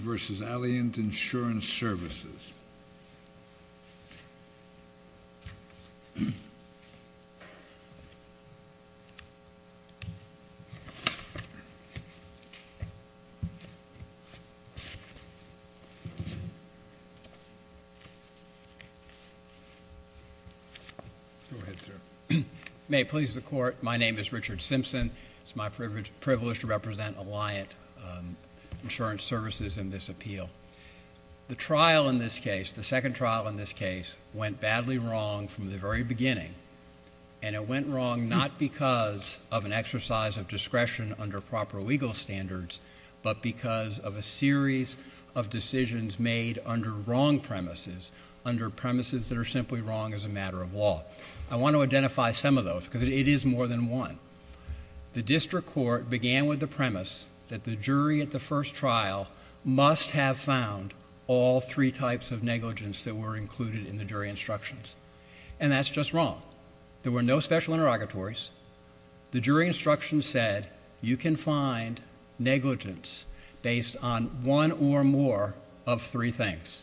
versus Alliant Insurance Services. Go ahead, sir. May it please the Court, my name is Richard Simpson. It's my privilege to represent Alliant Insurance Services in this appeal. The trial in this case, the second trial in this case, went badly wrong from the very beginning. And it went wrong not because of an exercise of discretion under proper legal standards, but because of a series of decisions made under wrong premises, under premises that are simply wrong as a matter of law. I want to identify some of those, because it is more than one. The district court began with the premise that the jury at the first trial must have found all three types of negligence that were included in the jury instructions. And that's just wrong. There were no special interrogatories. The jury instructions said you can find negligence based on one or more of three things.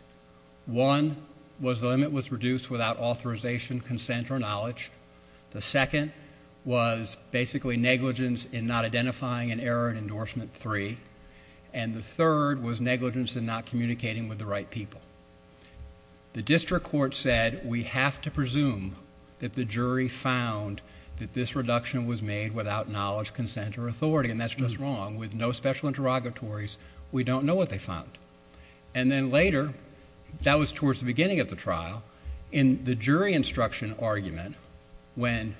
One was the limit was reduced without authorization, consent, or knowledge. The second was basically negligence in not identifying an error in endorsement three. And the third was negligence in not communicating with the right people. The district court said we have to presume that the jury found that this reduction was made without knowledge, consent, or authority. And that's just wrong. With no special interrogatories, we don't know what they found. And then later, that was towards the beginning of the trial, in the jury instruction argument when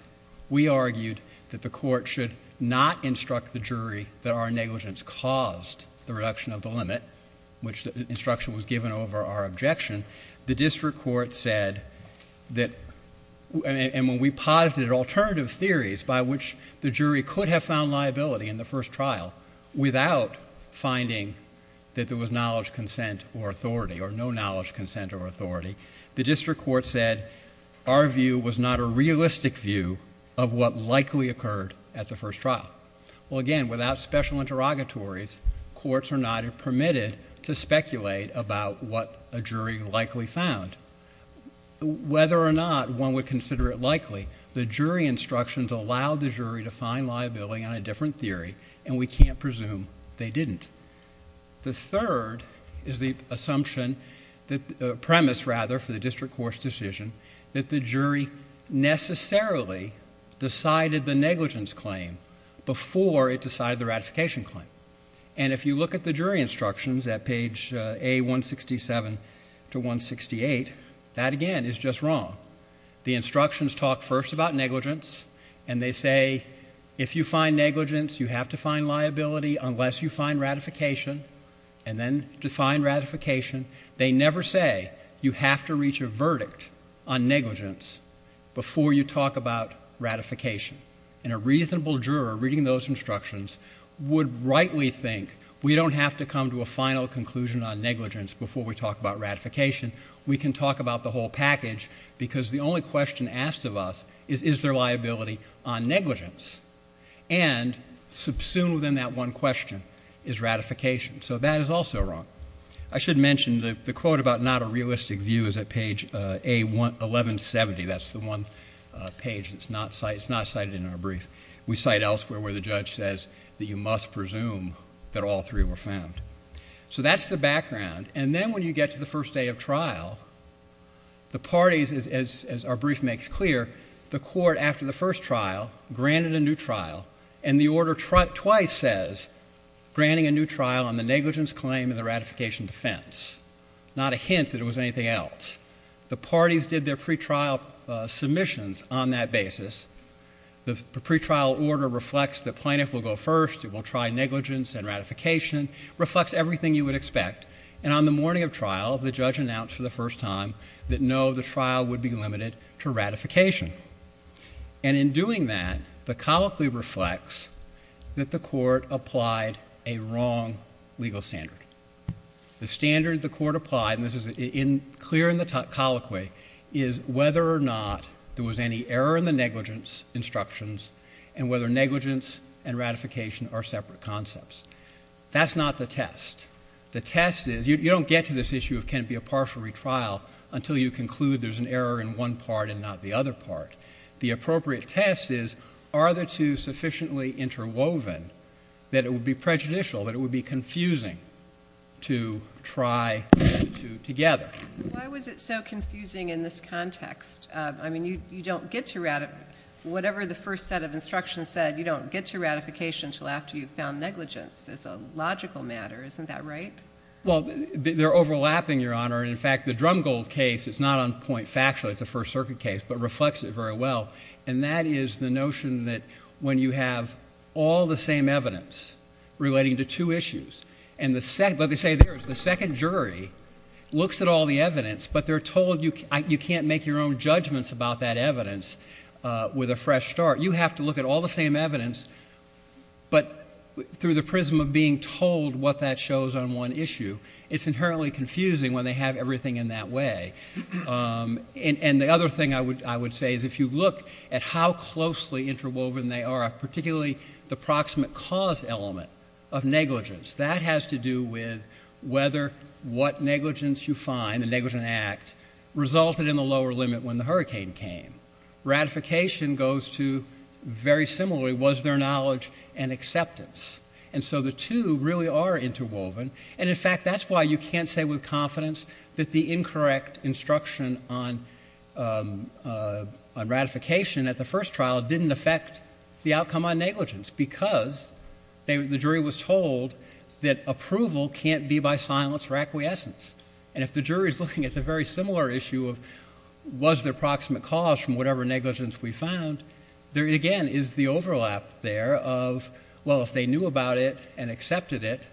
we argued that the court should not instruct the jury that our negligence caused the reduction of the limit, which instruction was given over our objection, the district court said that, and when we posited alternative theories by which the jury could have found liability in the first trial without finding that there was knowledge, consent, or authority, or no knowledge, consent, or authority, the district court said our view was not a realistic view of what likely occurred at the first trial. Well, again, without special interrogatories, courts are not permitted to speculate about what a jury likely found. Whether or not one would consider it likely, the jury instructions allowed the jury to find liability on a different theory, and we can't presume they didn't. The third is the assumption, the premise, rather, for the district court's decision that the jury necessarily decided the negligence claim before it decided the ratification claim. And if you look at the jury instructions at page A167 to 168, that, again, is just wrong. The instructions talk first about negligence, and they say if you find negligence, you have to find liability unless you find ratification, and then define ratification. They never say you have to reach a verdict on negligence before you talk about ratification. And a reasonable juror reading those instructions would rightly think we don't have to come to a final conclusion on negligence before we talk about ratification. We can talk about the whole package, because the only question asked of us is, is there liability on negligence? And subsumed within that one question is ratification. So that is also wrong. I should mention the quote about not a realistic view is at page A1170. That's the one page that's not cited in our brief. We cite elsewhere where the judge says that you must presume that all three were found. So that's the background. And then when you get to the first day of trial, the parties, as our brief makes clear, the court, after the first trial, granted a new trial, and the order twice says granting a new trial on the negligence claim and the ratification defense, not a hint that it was anything else. The parties did their pretrial submissions on that basis. The pretrial order reflects the plaintiff will go first. It will try negligence and ratification. It reflects everything you would expect. And on the morning of trial, the judge announced for the first time that no, the trial would be limited to ratification. And in doing that, the colloquy reflects that the court applied a wrong legal standard. The standard the court applied, and this is clear in the colloquy, is whether or not there was any error in the negligence instructions and whether negligence and ratification are separate concepts. That's not the test. The test is you don't get to this issue of can it be a partial retrial until you conclude there's an error in one part and not the other part. The appropriate test is are the two sufficiently interwoven that it would be prejudicial, that it would be confusing to try the two together. Why was it so confusing in this context? I mean, you don't get to ratify. Whatever the first set of instructions said, you don't get to ratification until after you've found negligence. It's a logical matter. Isn't that right? Well, they're overlapping, Your Honor. In fact, the Drumgold case is not on point factually. It's a First Circuit case but reflects it very well. And that is the notion that when you have all the same evidence relating to two issues and the second jury looks at all the evidence but they're told you can't make your own judgments about that evidence with a fresh start. You have to look at all the same evidence but through the prism of being told what that shows on one issue. It's inherently confusing when they have everything in that way. And the other thing I would say is if you look at how closely interwoven they are, particularly the proximate cause element of negligence, that has to do with whether what negligence you find, the negligent act, resulted in the lower limit when the hurricane came. Ratification goes to, very similarly, was there knowledge and acceptance? And so the two really are interwoven. And, in fact, that's why you can't say with confidence that the incorrect instruction on ratification at the first trial didn't affect the outcome on negligence because the jury was told that approval can't be by silence or acquiescence. And if the jury is looking at the very similar issue of was there proximate cause from whatever negligence we found, there again is the overlap there of, well, if they knew about it and accepted it,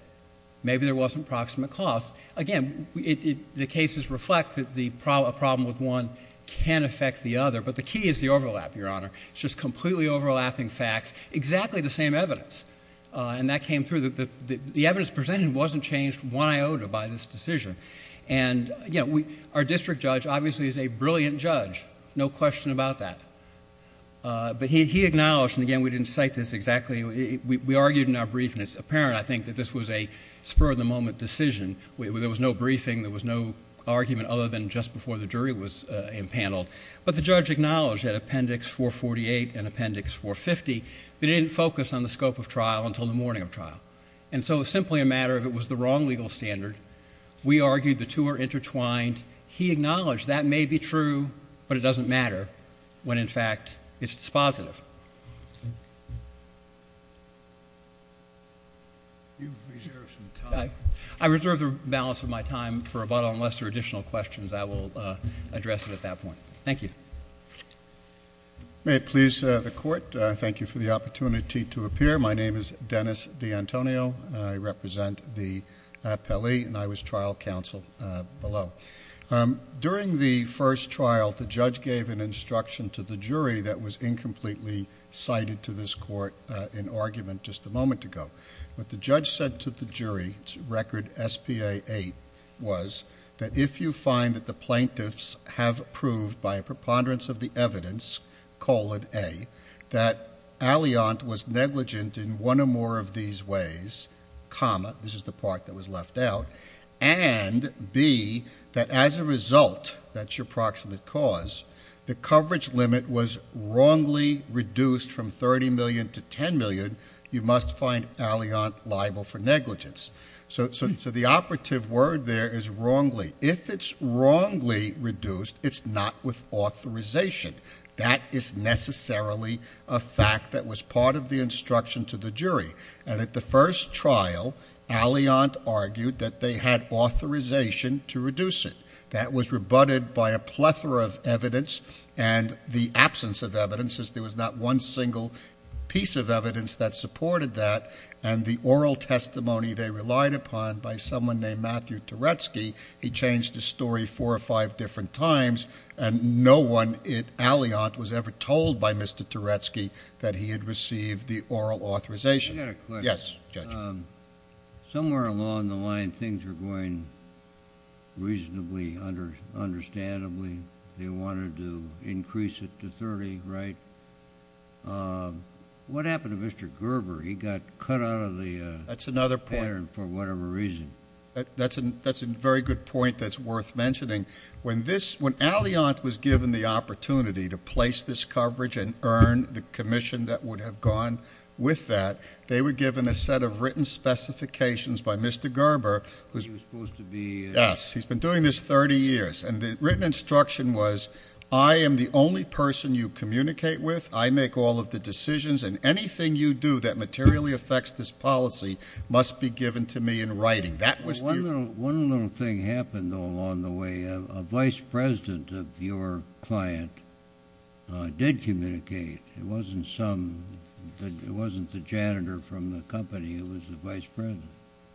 maybe there wasn't proximate cause. Again, the cases reflect that a problem with one can affect the other, but the key is the overlap, Your Honor. It's just completely overlapping facts, exactly the same evidence. And that came through. The evidence presented wasn't changed one iota by this decision. And, again, our district judge obviously is a brilliant judge, no question about that. But he acknowledged, and, again, we didn't cite this exactly. We argued in our brief, and it's apparent, I think, that this was a spur-of-the-moment decision. There was no briefing. There was no argument other than just before the jury was impaneled. But the judge acknowledged that Appendix 448 and Appendix 450, they didn't focus on the scope of trial until the morning of trial. And so it was simply a matter of it was the wrong legal standard. We argued the two are intertwined. He acknowledged that may be true, but it doesn't matter when, in fact, it's dispositive. You've reserved some time. I reserved the balance of my time for about unless there are additional questions. I will address it at that point. Thank you. May it please the Court. Thank you for the opportunity to appear. My name is Dennis D'Antonio. I represent the appellee, and I was trial counsel below. During the first trial, the judge gave an instruction to the jury that was incompletely cited to this court in argument just a moment ago. What the judge said to the jury, record SPA 8, was that if you find that the plaintiffs have proved by a preponderance of the evidence, colon A, that Alliant was negligent in one or more of these ways, comma, this is the part that was left out, and B, that as a result, that's your proximate cause, the coverage limit was wrongly reduced from 30 million to 10 million, you must find Alliant liable for negligence. So the operative word there is wrongly. If it's wrongly reduced, it's not with authorization. That is necessarily a fact that was part of the instruction to the jury. And at the first trial, Alliant argued that they had authorization to reduce it. That was rebutted by a plethora of evidence, and the absence of evidence, since there was not one single piece of evidence that supported that, and the oral testimony they relied upon by someone named Matthew Turetsky, he changed his story four or five different times, and no one at Alliant was ever told by Mr. Turetsky that he had received the oral authorization. I've got a question. Yes, Judge. Somewhere along the line, things were going reasonably understandably. They wanted to increase it to 30, right? What happened to Mr. Gerber? He got cut out of the pattern for whatever reason. That's another point. That's a very good point that's worth mentioning. When Alliant was given the opportunity to place this coverage and earn the commission that would have gone with that, they were given a set of written specifications by Mr. Gerber. He was supposed to be? Yes. He's been doing this 30 years. And the written instruction was, I am the only person you communicate with, I make all of the decisions, and anything you do that materially affects this policy must be given to me in writing. One little thing happened, though, along the way. A vice president of your client did communicate. It wasn't the janitor from the company. It was the vice president.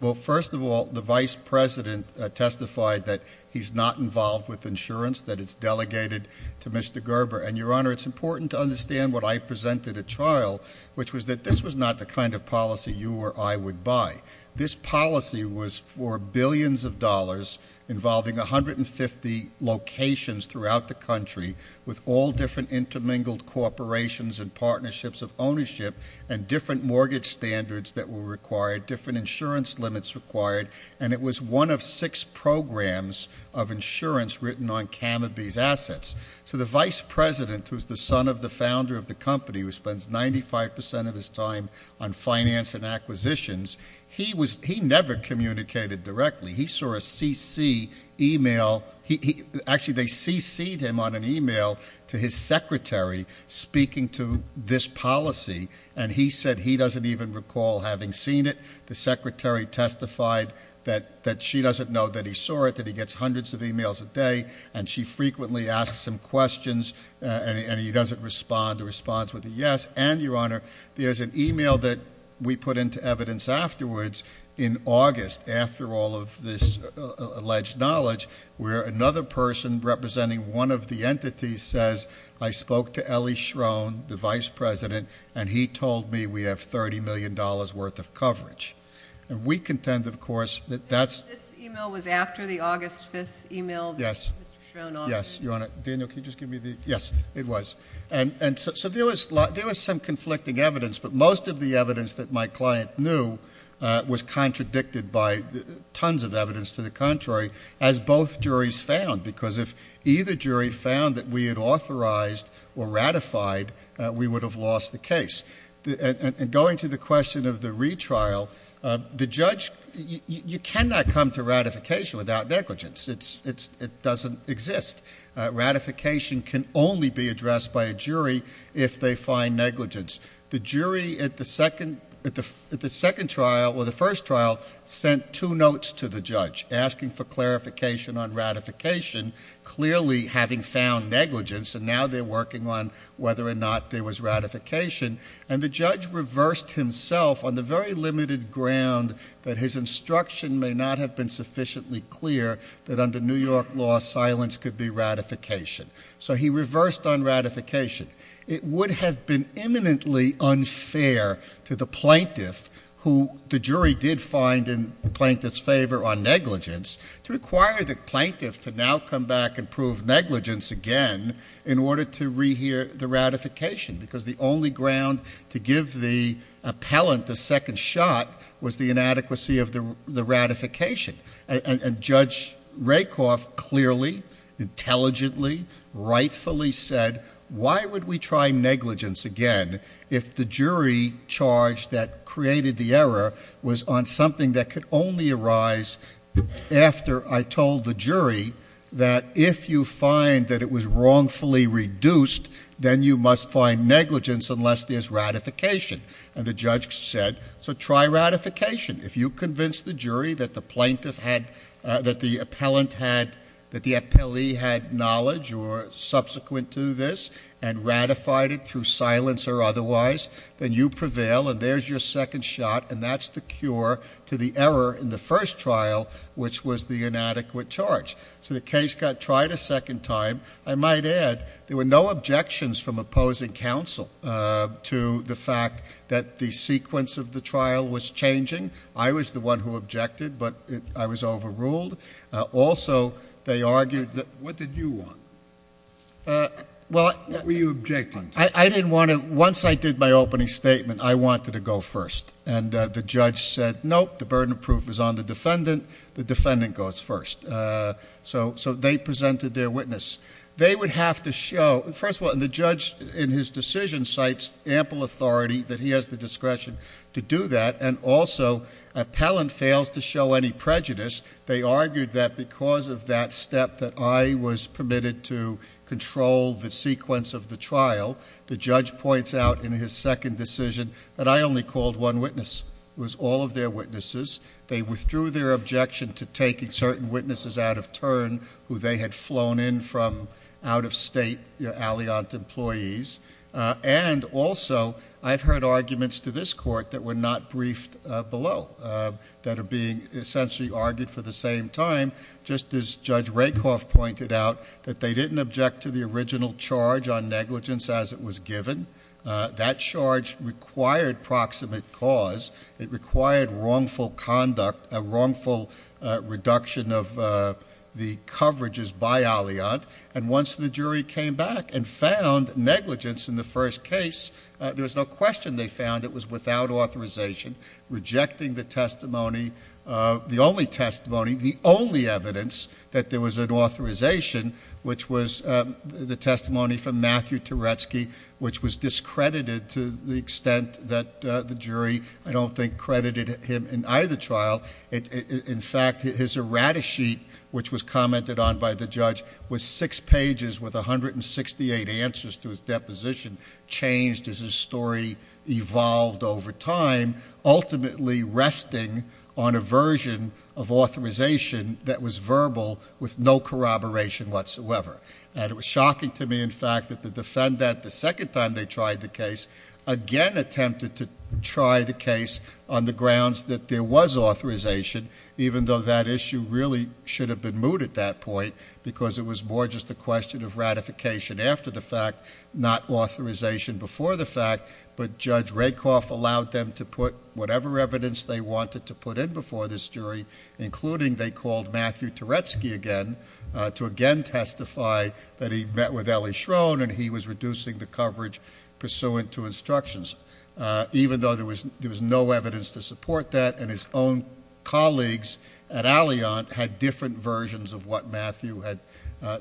Well, first of all, the vice president testified that he's not involved with insurance, that it's delegated to Mr. Gerber. And, Your Honor, it's important to understand what I presented at trial, which was that this was not the kind of policy you or I would buy. This policy was for billions of dollars involving 150 locations throughout the country with all different intermingled corporations and partnerships of ownership and different mortgage standards that were required, different insurance limits required, and it was one of six programs of insurance written on Canobie's assets. So the vice president, who's the son of the founder of the company, who spends 95% of his time on finance and acquisitions, he never communicated directly. He saw a CC e-mail. Actually, they CC'd him on an e-mail to his secretary speaking to this policy, and he said he doesn't even recall having seen it. The secretary testified that she doesn't know that he saw it, that he gets hundreds of e-mails a day, and she frequently asks him questions, and he doesn't respond. The response was a yes. And, Your Honor, there's an e-mail that we put into evidence afterwards in August, after all of this alleged knowledge, where another person representing one of the entities says, I spoke to Elie Schroen, the vice president, and he told me we have $30 million worth of coverage. And we contend, of course, that that's... This e-mail was after the August 5th e-mail that Mr. Schroen offered? Yes, Your Honor. Daniel, can you just give me the... Yes, it was. So there was some conflicting evidence, but most of the evidence that my client knew was contradicted by tons of evidence. To the contrary, as both juries found, because if either jury found that we had authorized or ratified, we would have lost the case. Going to the question of the retrial, the judge... You cannot come to ratification without negligence. It doesn't exist. Ratification can only be addressed by a jury if they find negligence. The jury at the second trial, or the first trial, sent two notes to the judge asking for clarification on ratification, clearly having found negligence, and now they're working on whether or not there was ratification. And the judge reversed himself on the very limited ground that his instruction may not have been sufficiently clear that under New York law silence could be ratification. So he reversed on ratification. It would have been imminently unfair to the plaintiff, who the jury did find in the plaintiff's favor on negligence, to require the plaintiff to now come back and prove negligence again in order to rehear the ratification, because the only ground to give the appellant the second shot was the inadequacy of the ratification. And Judge Rakoff clearly, intelligently, rightfully said, why would we try negligence again if the jury charge that created the error was on something that could only arise after I told the jury that if you find that it was wrongfully reduced, then you must find negligence unless there's ratification. And the judge said, so try ratification. If you convince the jury that the plaintiff had... ..that the appellant had...that the appellee had knowledge or subsequent to this and ratified it through silence or otherwise, then you prevail and there's your second shot, and that's the cure to the error in the first trial, which was the inadequate charge. So the case got tried a second time. I might add there were no objections from opposing counsel to the fact that the sequence of the trial was changing, I was the one who objected, but I was overruled. Also, they argued that... What did you want? Well... What were you objecting to? I didn't want to... Once I did my opening statement, I wanted to go first, and the judge said, nope, the burden of proof is on the defendant, the defendant goes first. So they presented their witness. They would have to show... First of all, the judge, in his decision, cites ample authority that he has the discretion to do that and also appellant fails to show any prejudice. They argued that because of that step that I was permitted to control the sequence of the trial, the judge points out in his second decision that I only called one witness. It was all of their witnesses. They withdrew their objection to taking certain witnesses out of turn who they had flown in from out-of-state Alliant employees. And also, I've heard arguments to this Court that were not briefed below, that are being essentially argued for the same time, just as Judge Rakoff pointed out, that they didn't object to the original charge on negligence as it was given. That charge required proximate cause. It required wrongful conduct, a wrongful reduction of the coverages by Alliant. And once the jury came back and found negligence in the first case, there was no question they found it was without authorization, rejecting the testimony, the only testimony, the only evidence that there was an authorization, which was the testimony from Matthew Teretzky, which was discredited to the extent that the jury, I don't think, credited him in either trial. In fact, his errata sheet, which was commented on by the judge, was six pages with 168 answers to his deposition, changed as his story evolved over time, ultimately resting on a version of authorization that was verbal with no corroboration whatsoever. And it was shocking to me, in fact, that the defendant, the second time they tried the case, again attempted to try the case on the grounds that there was authorization, even though that issue really should have been moot at that point because it was more just a question of ratification after the fact, not authorization before the fact, but Judge Rakoff allowed them to put whatever evidence they wanted to put in before this jury, including they called Matthew Teretzky again to again testify that he met with Ellie Schrone and he was reducing the coverage pursuant to instructions, even though there was no evidence to support that, and his own colleagues at Alliant had different versions of what Matthew had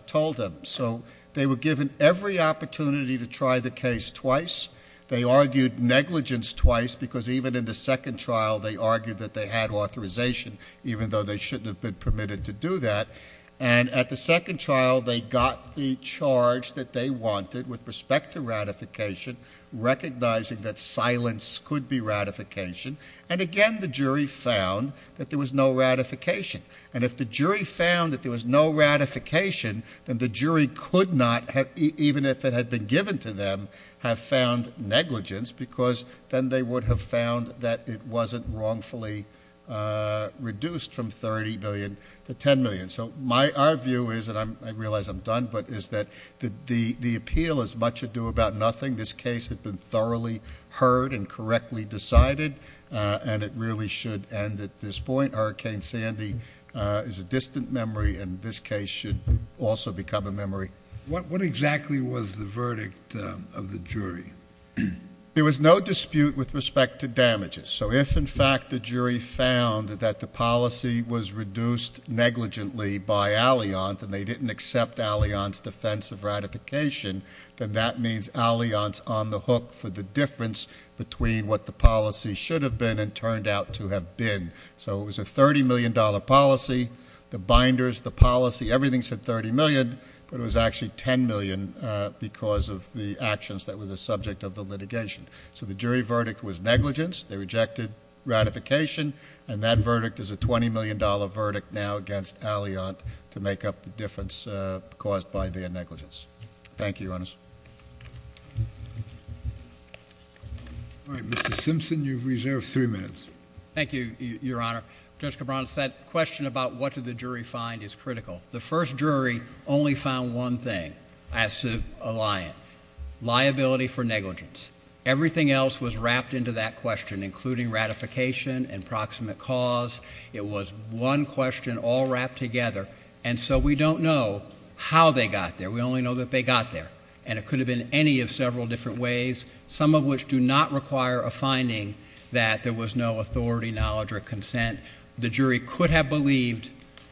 told them. So they were given every opportunity to try the case twice. They argued negligence twice because even in the second trial they argued that they had authorization, even though they shouldn't have been permitted to do that. And at the second trial they got the charge that they wanted with respect to ratification, recognizing that silence could be ratification, and again the jury found that there was no ratification. And if the jury found that there was no ratification, then the jury could not, even if it had been given to them, have found negligence because then they would have found that it wasn't wrongfully reduced from $30 million to $10 million. So our view is, and I realize I'm done, but is that the appeal is much ado about nothing. This case had been thoroughly heard and correctly decided, and it really should end at this point. Hurricane Sandy is a distant memory, and this case should also become a memory. What exactly was the verdict of the jury? There was no dispute with respect to damages. So if, in fact, the jury found that the policy was reduced negligently by Alliant and they didn't accept Alliant's defense of ratification, then that means Alliant's on the hook for the difference between what the policy should have been and turned out to have been. So it was a $30 million policy. The binders, the policy, everything said $30 million, but it was actually $10 million because of the actions that were the subject of the litigation. So the jury verdict was negligence. They rejected ratification, and that verdict is a $20 million verdict now against Alliant to make up the difference caused by their negligence. Thank you, Your Honor. All right, Mr. Simpson, you've reserved three minutes. Thank you, Your Honor. Judge Cabran, that question about what did the jury find is critical. The first jury only found one thing as to Alliant, liability for negligence. Everything else was wrapped into that question, including ratification and proximate cause. It was one question all wrapped together, and so we don't know how they got there. We only know that they got there, and it could have been any of several different ways, some of which do not require a finding that there was no authority, knowledge, or consent. The jury could have believed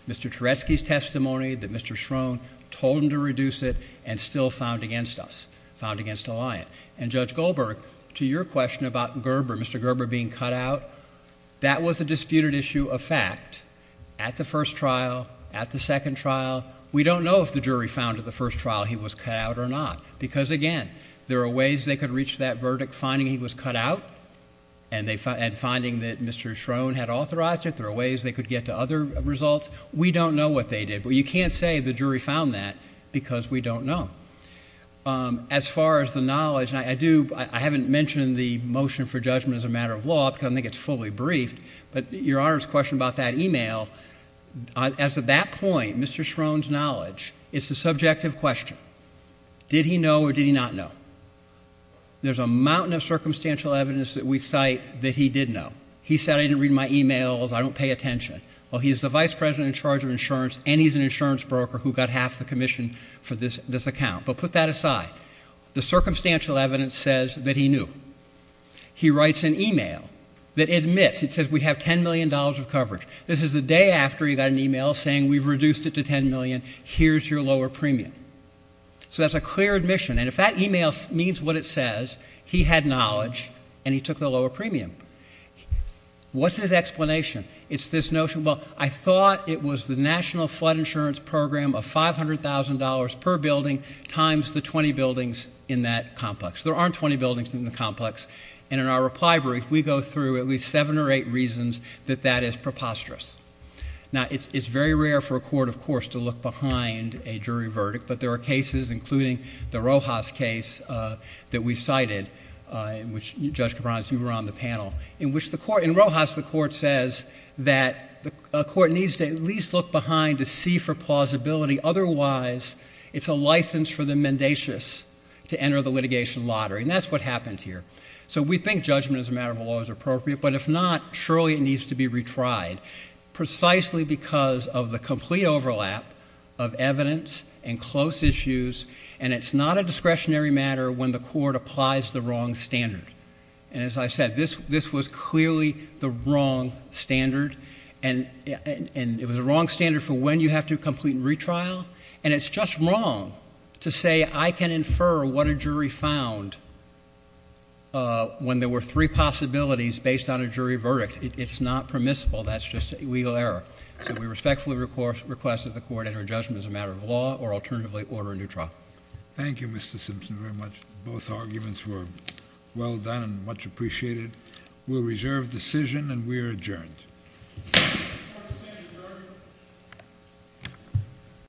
Mr. Teresky's testimony, that Mr. Schroen told him to reduce it, and still found against us, found against Alliant. And Judge Goldberg, to your question about Gerber, Mr. Gerber being cut out, that was a disputed issue of fact at the first trial, at the second trial. We don't know if the jury found at the first trial he was cut out or not because, again, there are ways they could reach that verdict, finding he was cut out, and finding that Mr. Schroen had authorized it. There are ways they could get to other results. We don't know what they did, but you can't say the jury found that because we don't know. As far as the knowledge, and I haven't mentioned the motion for judgment as a matter of law because I think it's fully briefed, but Your Honor's question about that e-mail, as of that point, Mr. Schroen's knowledge, it's a subjective question. Did he know or did he not know? There's a mountain of circumstantial evidence that we cite that he did know. He said, I didn't read my e-mails, I don't pay attention. Well, he's the vice president in charge of insurance, and he's an insurance broker who got half the commission for this account. But put that aside. The circumstantial evidence says that he knew. He writes an e-mail that admits, it says, we have $10 million of coverage. This is the day after he got an e-mail saying we've reduced it to $10 million, here's your lower premium. So that's a clear admission. And if that e-mail means what it says, he had knowledge, and he took the lower premium. What's his explanation? It's this notion, well, I thought it was the National Flood Insurance Program of $500,000 per building times the 20 buildings in that complex. There aren't 20 buildings in the complex. And in our reply brief, we go through at least seven or eight reasons that that is preposterous. Now, it's very rare for a court, of course, to look behind a jury verdict, but there are cases, including the Rojas case that we cited, in which, Judge Capron, as you were on the panel, in Rojas the court says that a court needs to at least look behind to see for plausibility. Otherwise, it's a license for the mendacious to enter the litigation lottery. And that's what happened here. So we think judgment as a matter of law is appropriate. But if not, surely it needs to be retried. Precisely because of the complete overlap of evidence and close issues, and it's not a discretionary matter when the court applies the wrong standard. And as I said, this was clearly the wrong standard, and it was the wrong standard for when you have to complete retrial. And it's just wrong to say I can infer what a jury found when there were three possibilities based on a jury verdict. It's not permissible. That's just a legal error. So we respectfully request that the court enter judgment as a matter of law or alternatively order a new trial. Thank you, Mr. Simpson, very much. Both arguments were well done and much appreciated. We'll reserve decision, and we are adjourned. Court is adjourned.